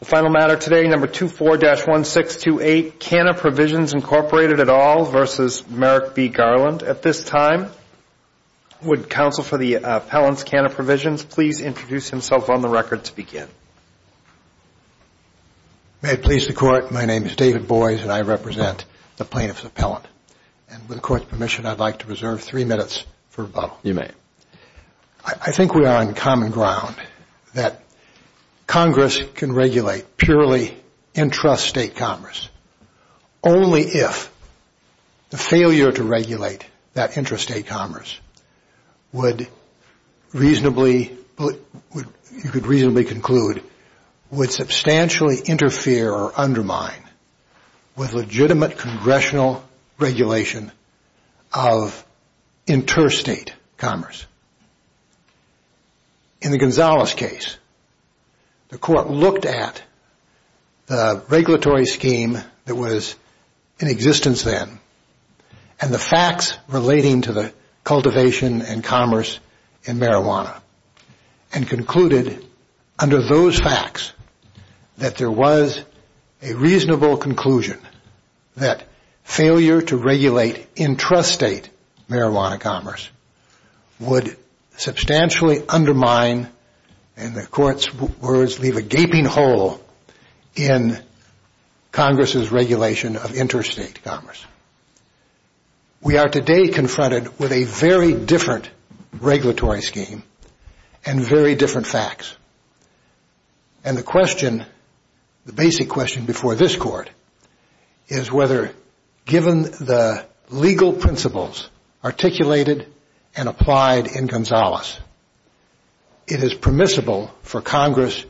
The final matter today, No. 24-1628, Canna Provisions, Inc. v. Merrick B. Garland. At this time, would counsel for the appellant's Canna Provisions please introduce himself on the record to begin? May it please the Court, my name is David Boies, and I represent the plaintiff's appellant. And with the Court's permission, I'd like to reserve three minutes for rebuttal. You may. I think we are on common ground that Congress can regulate purely intrastate commerce only if the failure to regulate that intrastate commerce would reasonably conclude would substantially interfere or undermine with legitimate congressional regulation of intrastate commerce. In the Gonzales case, the Court looked at the regulatory scheme that was in existence then and the facts relating to the cultivation and commerce in marijuana and concluded under those facts that there was a reasonable conclusion that failure to regulate intrastate marijuana commerce would substantially undermine and the Court's words leave a gaping hole in Congress's regulation of intrastate commerce. We are today confronted with a very different regulatory scheme and very different facts. And the question, the basic question before this Court is whether, given the legal principles articulated and applied in Gonzales, it is permissible for Congress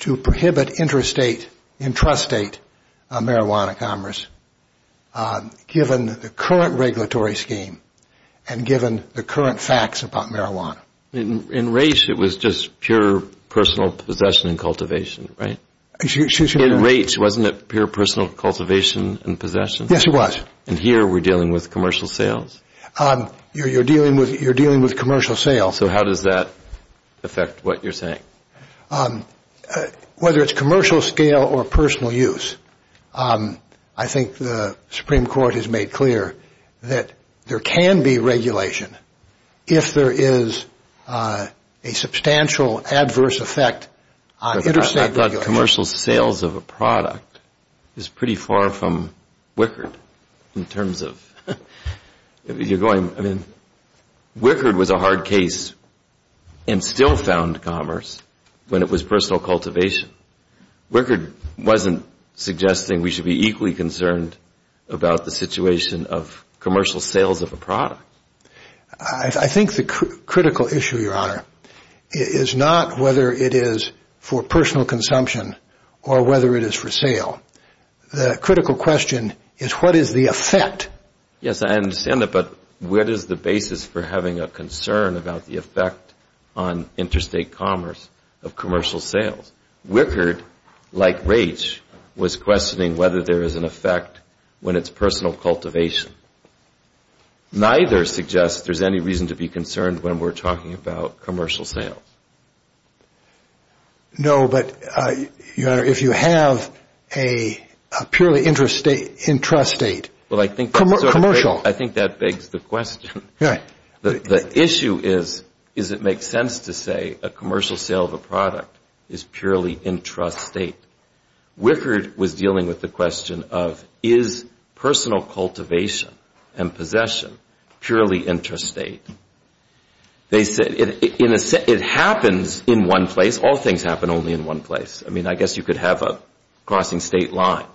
to prohibit intrastate marijuana commerce given the current regulatory scheme and given the current facts about marijuana. In Raich, it was just pure personal possession and cultivation, right? In Raich, wasn't it pure personal cultivation and possession? Yes, it was. And here, we're dealing with commercial sales? You're dealing with commercial sales. So how does that affect what you're saying? Whether it's commercial scale or personal use, I think the Supreme Court has made clear that there can be regulation if there is a substantial adverse effect on intrastate regulation. I thought commercial sales of a product is pretty far from Wickard in terms of you're going, I mean, Wickard was a hard case and still found commerce when it was personal cultivation. Wickard wasn't suggesting we should be equally concerned about the situation of commercial sales of a product. I think the critical issue, Your Honor, is not whether it is for personal consumption or whether it is for sale. The critical question is what is the effect? Yes, I understand that, but what is the basis for having a concern about the effect on intrastate commerce of commercial sales? Wickard, like Raich, was questioning whether there is an effect when it's personal cultivation. Neither suggests there's any reason to be concerned when we're talking about commercial sales. No, but, Your Honor, if you have a purely intrastate, commercial. I think that begs the question. The issue is, does it make sense to say a commercial sale of a product is purely intrastate? Wickard was dealing with the question of is personal cultivation and possession purely intrastate? They said it happens in one place. All things happen only in one place. I mean, I guess you could have a crossing state line.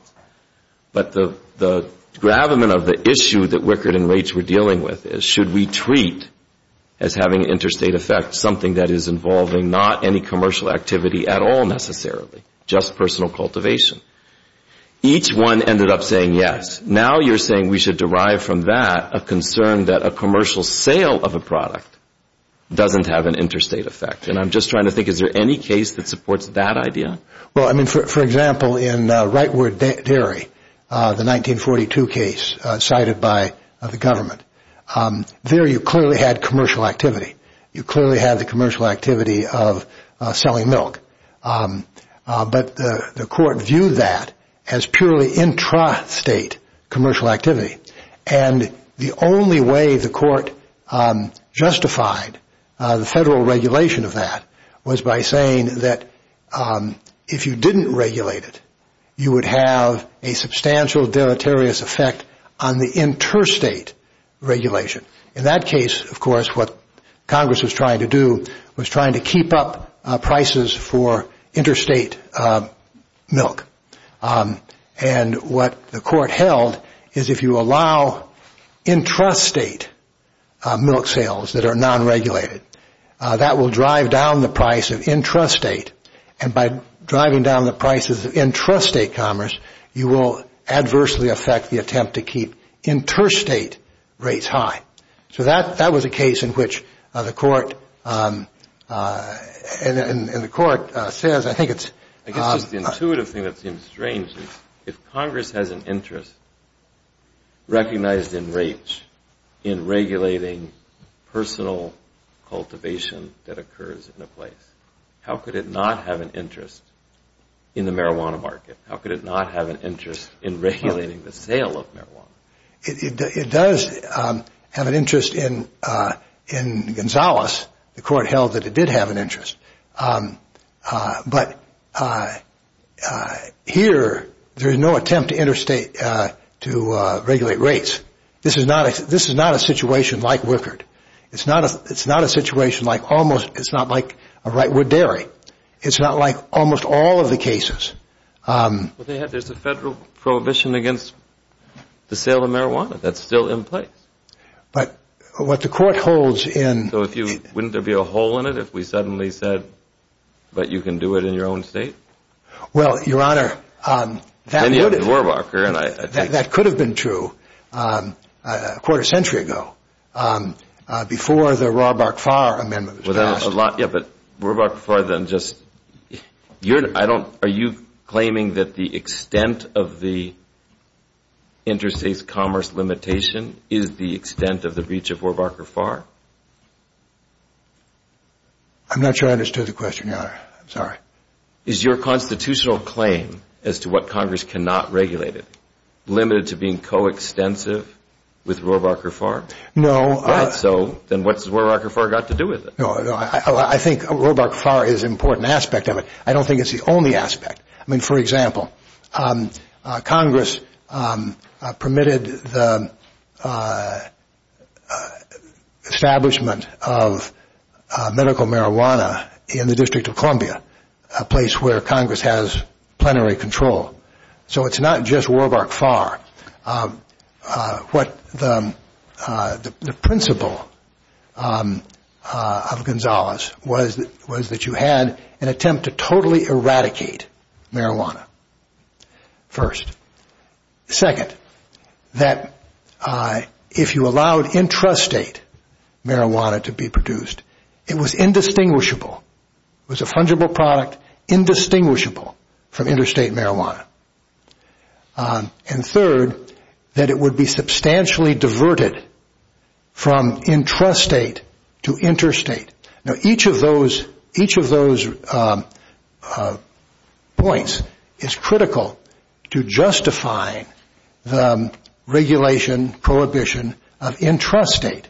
But the gravamen of the issue that Wickard and Raich were dealing with is should we treat as having an intrastate effect something that is involving not any commercial activity at all necessarily, just personal cultivation. Each one ended up saying yes. Now you're saying we should derive from that a concern that a commercial sale of a product doesn't have an intrastate effect. And I'm just trying to think, is there any case that supports that idea? Well, I mean, for example, in Rightward Dairy, the 1942 case cited by the government, there you clearly had commercial activity. You clearly had the commercial activity of selling milk. But the court viewed that as purely intrastate commercial activity. And the only way the court justified the federal regulation of that was by saying that if you didn't regulate it, you would have a substantial deleterious effect on the interstate regulation. In that case, of course, what Congress was trying to do was trying to keep up prices for interstate milk. And what the court held is if you allow intrastate milk sales that are non-regulated, that will drive down the price of intrastate. And by driving down the prices of intrastate commerce, you will adversely affect the attempt to keep interstate rates high. So that was a case in which the court says, I think it's – I guess just the intuitive thing that seems strange is if Congress has an interest recognized in rates in regulating personal cultivation that occurs in a place, how could it not have an interest in the marijuana market? How could it not have an interest in regulating the sale of marijuana? It does have an interest in Gonzales. The court held that it did have an interest. But here, there is no attempt to interstate – to regulate rates. This is not a situation like Wickard. It's not a situation like almost – it's not like a Rightwood Dairy. It's not like almost all of the cases. Well, there's a federal prohibition against the sale of marijuana. That's still in place. But what the court holds in – So if you – wouldn't there be a hole in it if we suddenly said, but you can do it in your own state? Well, Your Honor, that would – a quarter century ago, before the Rohrbacher-Farr Amendment was passed. Yeah, but Rohrbacher-Farr then just – I don't – are you claiming that the extent of the interstate commerce limitation is the extent of the breach of Rohrbacher-Farr? I'm not sure I understood the question, Your Honor. I'm sorry. Is your constitutional claim as to what Congress cannot regulate it limited to being coextensive with Rohrbacher-Farr? No. All right, so then what's Rohrbacher-Farr got to do with it? No, no. I think Rohrbacher-Farr is an important aspect of it. I don't think it's the only aspect. I mean, for example, Congress permitted the establishment of medical marijuana in the District of Columbia, a place where Congress has plenary control. So it's not just Rohrbacher-Farr. What the principle of Gonzales was that you had an attempt to totally eradicate marijuana, first. Second, that if you allowed intrastate marijuana to be produced, it was indistinguishable. It was a fungible product, indistinguishable from interstate marijuana. And third, that it would be substantially diverted from intrastate to interstate. Now, each of those points is critical to justifying the regulation, prohibition of intrastate.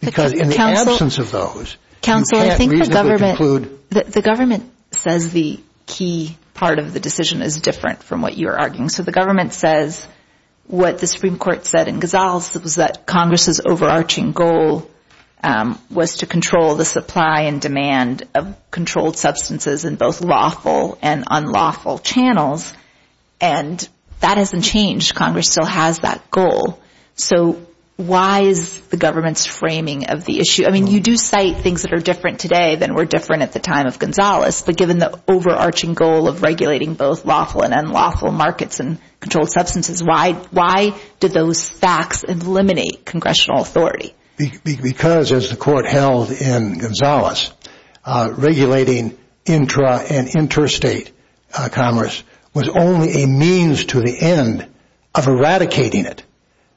Because in the absence of those, you can't reasonably conclude. Counsel, I think the government says the key part of the decision is different from what you are arguing. So the government says what the Supreme Court said in Gonzales was that Congress' overarching goal was to control the supply and demand of controlled substances in both lawful and unlawful channels. And that hasn't changed. Congress still has that goal. So why is the government's framing of the issue? I mean, you do cite things that are different today than were different at the time of Gonzales. But given the overarching goal of regulating both lawful and unlawful markets and controlled substances, why did those facts eliminate congressional authority? Because, as the court held in Gonzales, regulating intra- and interstate commerce was only a means to the end of eradicating it.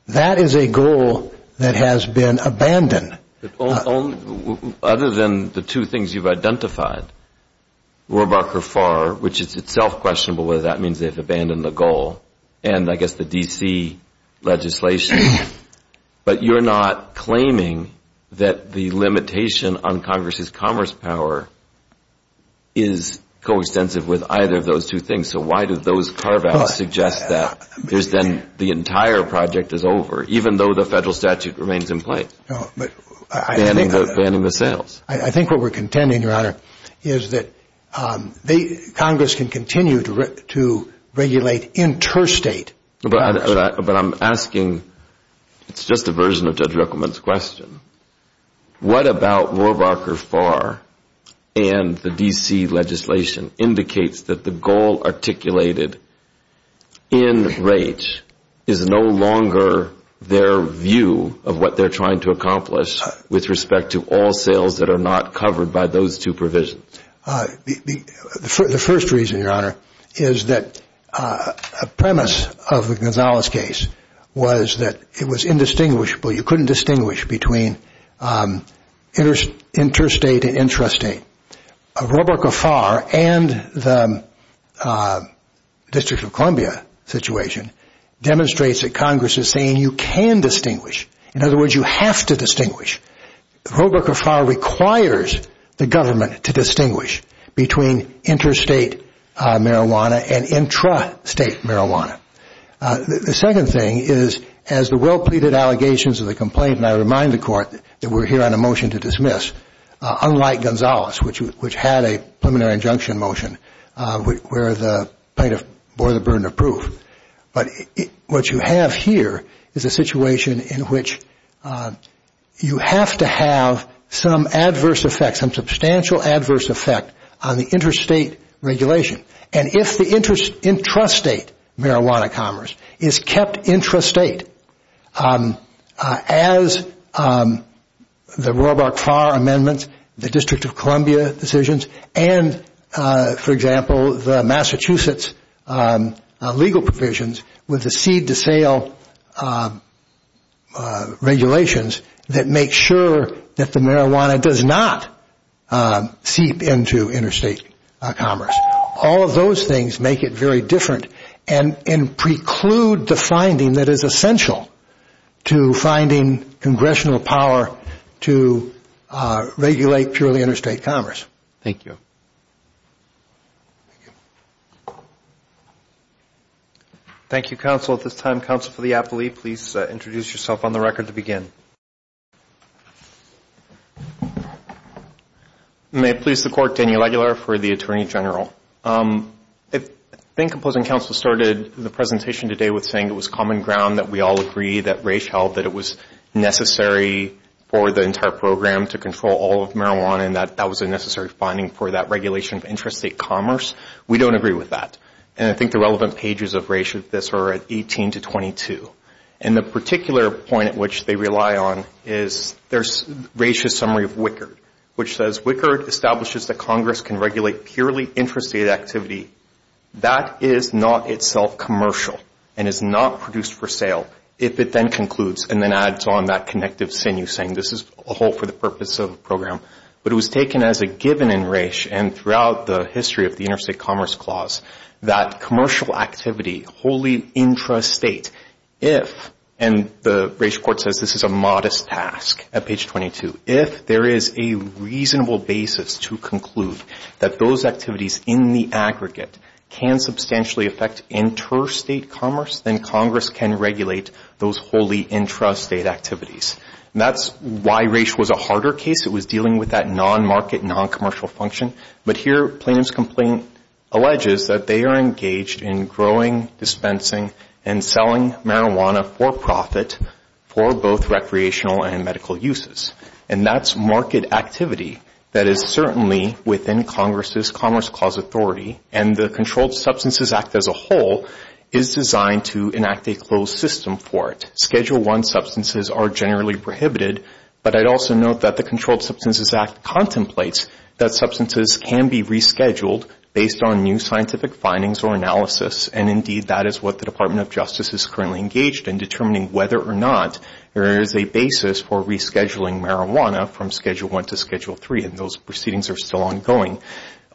That is a goal that has been abandoned. Other than the two things you've identified, Rohrabacher-Farr, which is itself questionable whether that means they've abandoned the goal, and I guess the D.C. legislation, but you're not claiming that the limitation on Congress' commerce power is coextensive with either of those two things. So why do those carve-outs suggest that? Because then the entire project is over, even though the federal statute remains in place, banning the sales. I think what we're contending, Your Honor, is that Congress can continue to regulate interstate commerce. But I'm asking, it's just a version of Judge Ruckelman's question, What about Rohrabacher-Farr and the D.C. legislation indicates that the goal articulated in Raich is no longer their view of what they're trying to accomplish with respect to all sales that are not covered by those two provisions? The first reason, Your Honor, is that a premise of the Gonzales case was that it was indistinguishable. You couldn't distinguish between interstate and intrastate. Rohrabacher-Farr and the District of Columbia situation demonstrates that Congress is saying you can distinguish. In other words, you have to distinguish. Rohrabacher-Farr requires the government to distinguish between interstate marijuana and intrastate marijuana. The second thing is, as the well-pleaded allegations of the complaint, and I remind the Court that we're here on a motion to dismiss, unlike Gonzales, which had a preliminary injunction motion where the plaintiff bore the burden of proof. But what you have here is a situation in which you have to have some adverse effect, some substantial adverse effect on the interstate regulation. If the intrastate marijuana commerce is kept intrastate, as the Rohrabacher-Farr amendments, the District of Columbia decisions, and, for example, the Massachusetts legal provisions with the seed-to-sale regulations that make sure that the marijuana does not seep into interstate commerce, all of those things make it very different and preclude the finding that is essential to finding congressional power to regulate purely interstate commerce. Thank you. Thank you, counsel. At this time, counsel for the appellee, please introduce yourself on the record to begin. May it please the Court. Daniel Aguilar for the Attorney General. I think opposing counsel started the presentation today with saying it was common ground that we all agree that Raich held that it was necessary for the entire program to control all of marijuana and that that was a necessary finding for that regulation of intrastate commerce. We don't agree with that. And I think the relevant pages of Raich with this are at 18 to 22. And the particular point at which they rely on is Raich's summary of Wickard, which says Wickard establishes that Congress can regulate purely intrastate activity. That is not itself commercial and is not produced for sale if it then concludes and then adds on that connective sinew saying this is a whole for the purpose of the program. But it was taken as a given in Raich and throughout the history of the Interstate Commerce Clause that commercial activity, wholly intrastate, if, and the Raich Court says this is a modest task at page 22, if there is a reasonable basis to conclude that those activities in the aggregate can substantially affect interstate commerce, then Congress can regulate those wholly intrastate activities. And that's why Raich was a harder case. It was dealing with that non-market, non-commercial function. But here Plainham's complaint alleges that they are engaged in growing, dispensing, and selling marijuana for profit for both recreational and medical uses. And that's market activity that is certainly within Congress's Commerce Clause authority. And the Controlled Substances Act as a whole is designed to enact a closed system for it. Schedule I substances are generally prohibited. But I'd also note that the Controlled Substances Act contemplates that substances can be rescheduled based on new scientific findings or analysis. And, indeed, that is what the Department of Justice is currently engaged in, determining whether or not there is a basis for rescheduling marijuana from Schedule I to Schedule III. And those proceedings are still ongoing.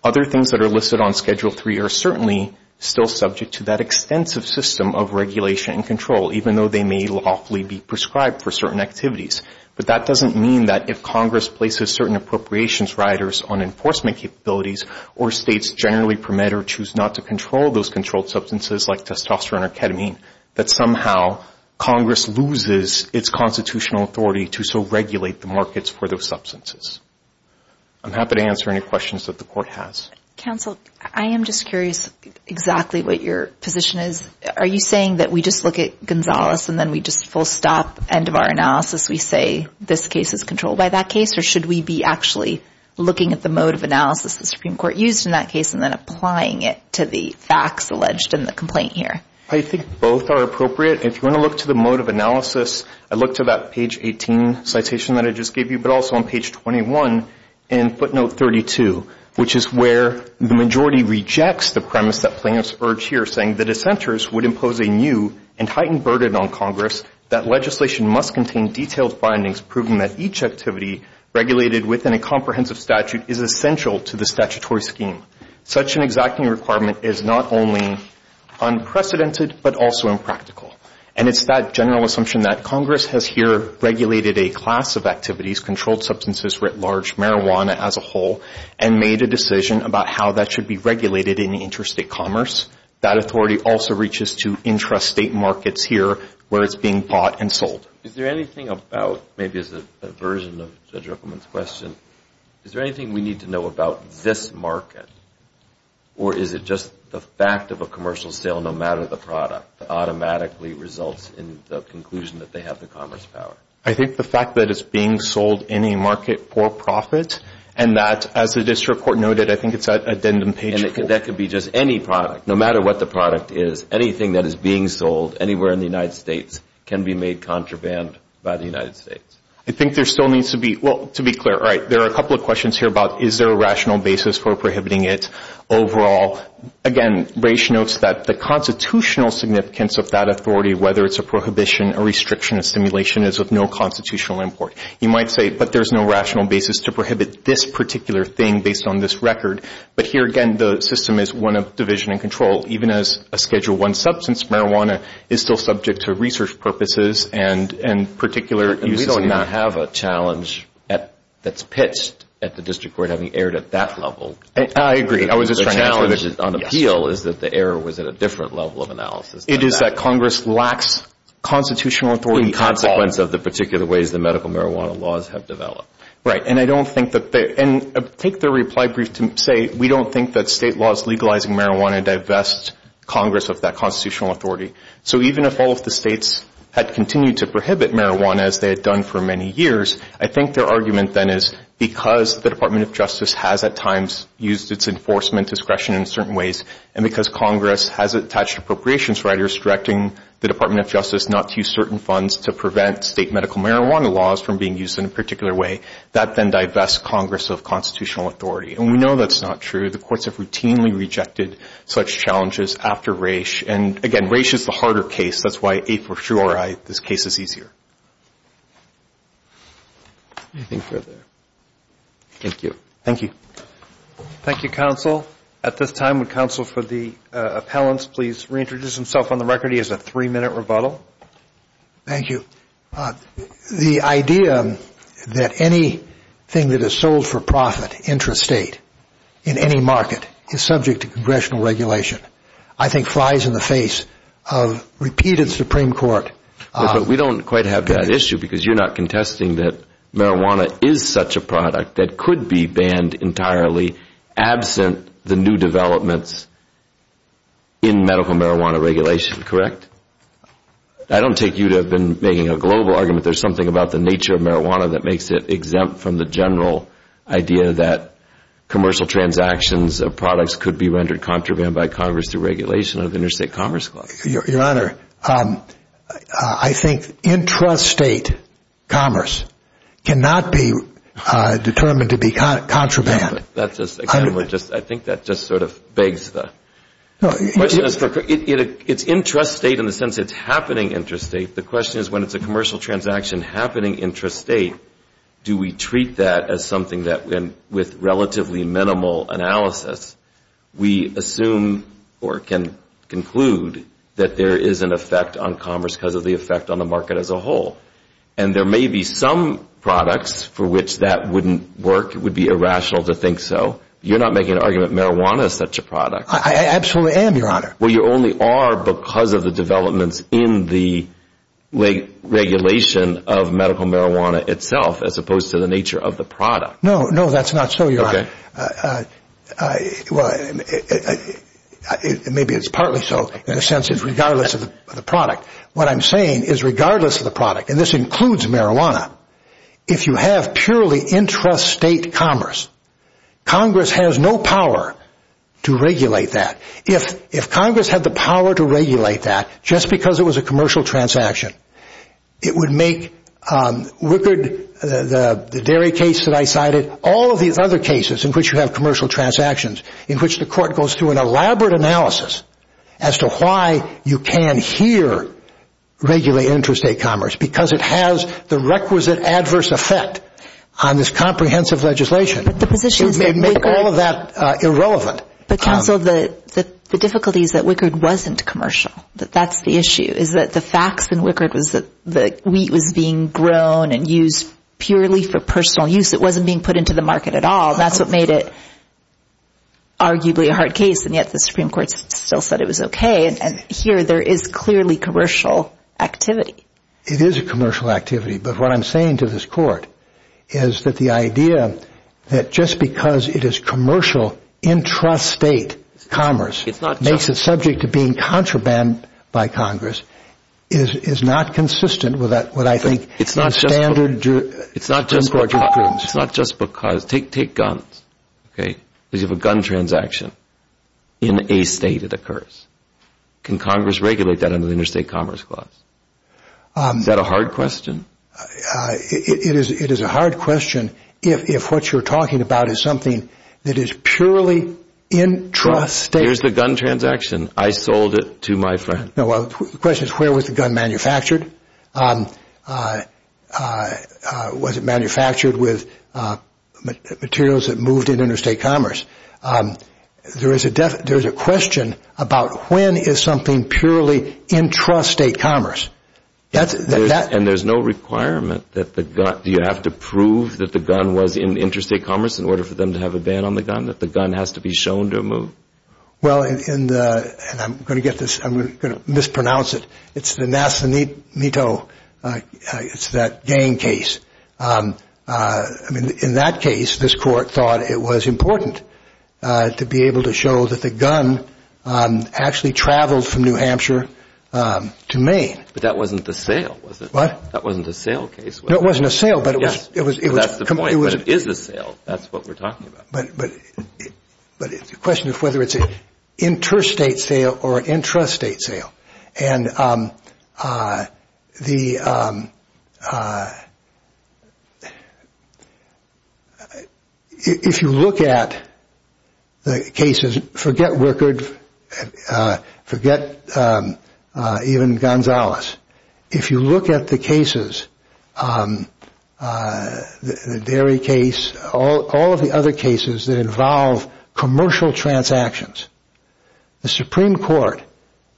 Other things that are listed on Schedule III are certainly still subject to that extensive system of regulation and control, even though they may lawfully be prescribed for certain activities. But that doesn't mean that if Congress places certain appropriations riders on enforcement capabilities or states generally permit or choose not to control those controlled substances like testosterone or ketamine, that somehow Congress loses its constitutional authority to so regulate the markets for those substances. I'm happy to answer any questions that the Court has. Counsel, I am just curious exactly what your position is. Are you saying that we just look at Gonzales and then we just full stop, end of our analysis, we say this case is controlled by that case, or should we be actually looking at the mode of analysis the Supreme Court used in that case and then applying it to the facts alleged in the complaint here? I think both are appropriate. If you want to look to the mode of analysis, I look to that page 18 citation that I just gave you, but also on page 21 in footnote 32, which is where the majority rejects the premise that plaintiffs urge here, saying the dissenters would impose a new and heightened burden on Congress that legislation must contain detailed findings proving that each activity regulated within a comprehensive statute is essential to the statutory scheme. Such an exacting requirement is not only unprecedented but also impractical. And it's that general assumption that Congress has here regulated a class of activities, controlled substances writ large, marijuana as a whole, and made a decision about how that should be regulated in interstate commerce. That authority also reaches to intrastate markets here where it's being bought and sold. Is there anything about, maybe as a version of Judge Ruppelman's question, is there anything we need to know about this market, or is it just the fact of a commercial sale no matter the product that automatically results in the conclusion that they have the commerce power? I think the fact that it's being sold in a market for profit and that, as the district court noted, I think it's that addendum page. And that could be just any product, no matter what the product is. Anything that is being sold anywhere in the United States can be made contraband by the United States. I think there still needs to be, well, to be clear, all right, there are a couple of questions here about is there a rational basis for prohibiting it overall. Again, Raish notes that the constitutional significance of that authority, whether it's a prohibition, a restriction, a simulation, is of no constitutional import. You might say, but there's no rational basis to prohibit this particular thing based on this record. But here, again, the system is one of division and control. Even as a Schedule I substance, marijuana is still subject to research purposes and particular uses. We do not have a challenge that's pitched at the district court having erred at that level. I agree. The challenge on appeal is that the error was at a different level of analysis. It is that Congress lacks constitutional authority. That's a consequence of the particular ways the medical marijuana laws have developed. Right. And I don't think that they – and take their reply brief to say we don't think that state laws legalizing marijuana divest Congress of that constitutional authority. So even if all of the states had continued to prohibit marijuana, as they had done for many years, I think their argument then is because the Department of Justice has at times used its enforcement discretion in certain ways and because Congress has attached appropriations rights, restricting the Department of Justice not to use certain funds to prevent state medical marijuana laws from being used in a particular way, that then divests Congress of constitutional authority. And we know that's not true. The courts have routinely rejected such challenges after Raich. And, again, Raich is the harder case. That's why, for sure, this case is easier. Anything further? Thank you. Thank you. Thank you, counsel. At this time, would counsel for the appellants please reintroduce himself on the record? He has a three-minute rebuttal. Thank you. The idea that anything that is sold for profit, intrastate, in any market is subject to congressional regulation, I think flies in the face of repeated Supreme Court – But we don't quite have that issue because you're not contesting that marijuana is such a product that could be banned entirely absent the new developments in medical marijuana regulation, correct? I don't take you to have been making a global argument. There's something about the nature of marijuana that makes it exempt from the general idea that commercial transactions of products could be rendered contraband by Congress through regulation of interstate commerce. Your Honor, I think intrastate commerce cannot be determined to be contraband. I think that just sort of begs the question. It's intrastate in the sense it's happening intrastate. The question is when it's a commercial transaction happening intrastate, do we treat that as something that, with relatively minimal analysis, we assume or can conclude that there is an effect on commerce because of the effect on the market as a whole? And there may be some products for which that wouldn't work. It would be irrational to think so. You're not making an argument marijuana is such a product. I absolutely am, Your Honor. Well, you only are because of the developments in the regulation of medical marijuana itself as opposed to the nature of the product. No, no, that's not so, Your Honor. Maybe it's partly so in the sense it's regardless of the product. What I'm saying is regardless of the product, and this includes marijuana, if you have purely intrastate commerce, Congress has no power to regulate that. If Congress had the power to regulate that just because it was a commercial transaction, it would make Wickard, the dairy case that I cited, all of these other cases in which you have commercial transactions in which the court goes through an elaborate analysis as to why you can here regulate intrastate commerce because it has the requisite adverse effect on this comprehensive legislation. But the position is that Wickard It would make all of that irrelevant. But, counsel, the difficulty is that Wickard wasn't commercial. That's the issue is that the facts in Wickard was that the wheat was being grown and used purely for personal use. It wasn't being put into the market at all. That's what made it arguably a hard case, and yet the Supreme Court still said it was okay. And here there is clearly commercial activity. It is a commercial activity, but what I'm saying to this court is that the idea that just because it is commercial intrastate commerce, makes it subject to being contraband by Congress, is not consistent with what I think a standard court should prove. It's not just because. Take guns, okay, because you have a gun transaction. In a state it occurs. Can Congress regulate that under the Interstate Commerce Clause? Is that a hard question? It is a hard question if what you're talking about is something that is purely intrastate. Here's the gun transaction. I sold it to my friend. The question is where was the gun manufactured? Was it manufactured with materials that moved in interstate commerce? There is a question about when is something purely intrastate commerce? And there's no requirement that the gun, do you have to prove that the gun was in interstate commerce in order for them to have a ban on the gun, that the gun has to be shown to move? Well, and I'm going to mispronounce it. It's the Nascenito, it's that gang case. In that case, this court thought it was important to be able to show that the gun actually traveled from New Hampshire to Maine. But that wasn't the sale, was it? What? That wasn't the sale case. No, it wasn't a sale, but it was. Yes, that's the point. But it is a sale. That's what we're talking about. But the question is whether it's an interstate sale or an intrastate sale. And if you look at the cases, forget Wickard, forget even Gonzales. If you look at the cases, the Derry case, all of the other cases that involve commercial transactions, the Supreme Court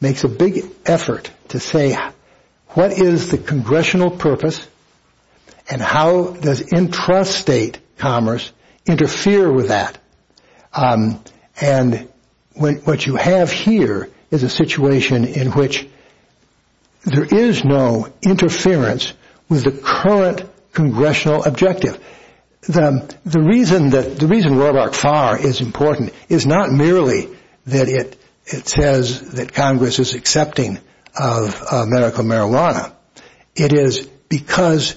makes a big effort to say what is the congressional purpose and how does intrastate commerce interfere with that. And what you have here is a situation in which there is no interference with the current congressional objective. The reason Roebuck-Farr is important is not merely that it says that Congress is accepting of medical marijuana. It is because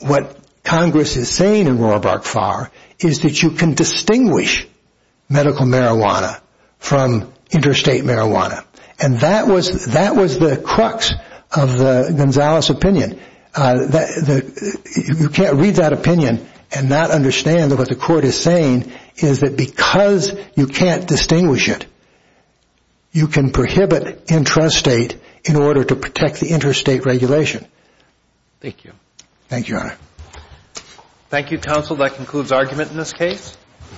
what Congress is saying in Roebuck-Farr is that you can distinguish medical marijuana from interstate marijuana. And that was the crux of the Gonzales opinion. You can't read that opinion and not understand that what the court is saying is that because you can't distinguish it, you can prohibit intrastate in order to protect the interstate regulation. Thank you. Thank you, Your Honor. Thank you, counsel. That concludes argument in this case.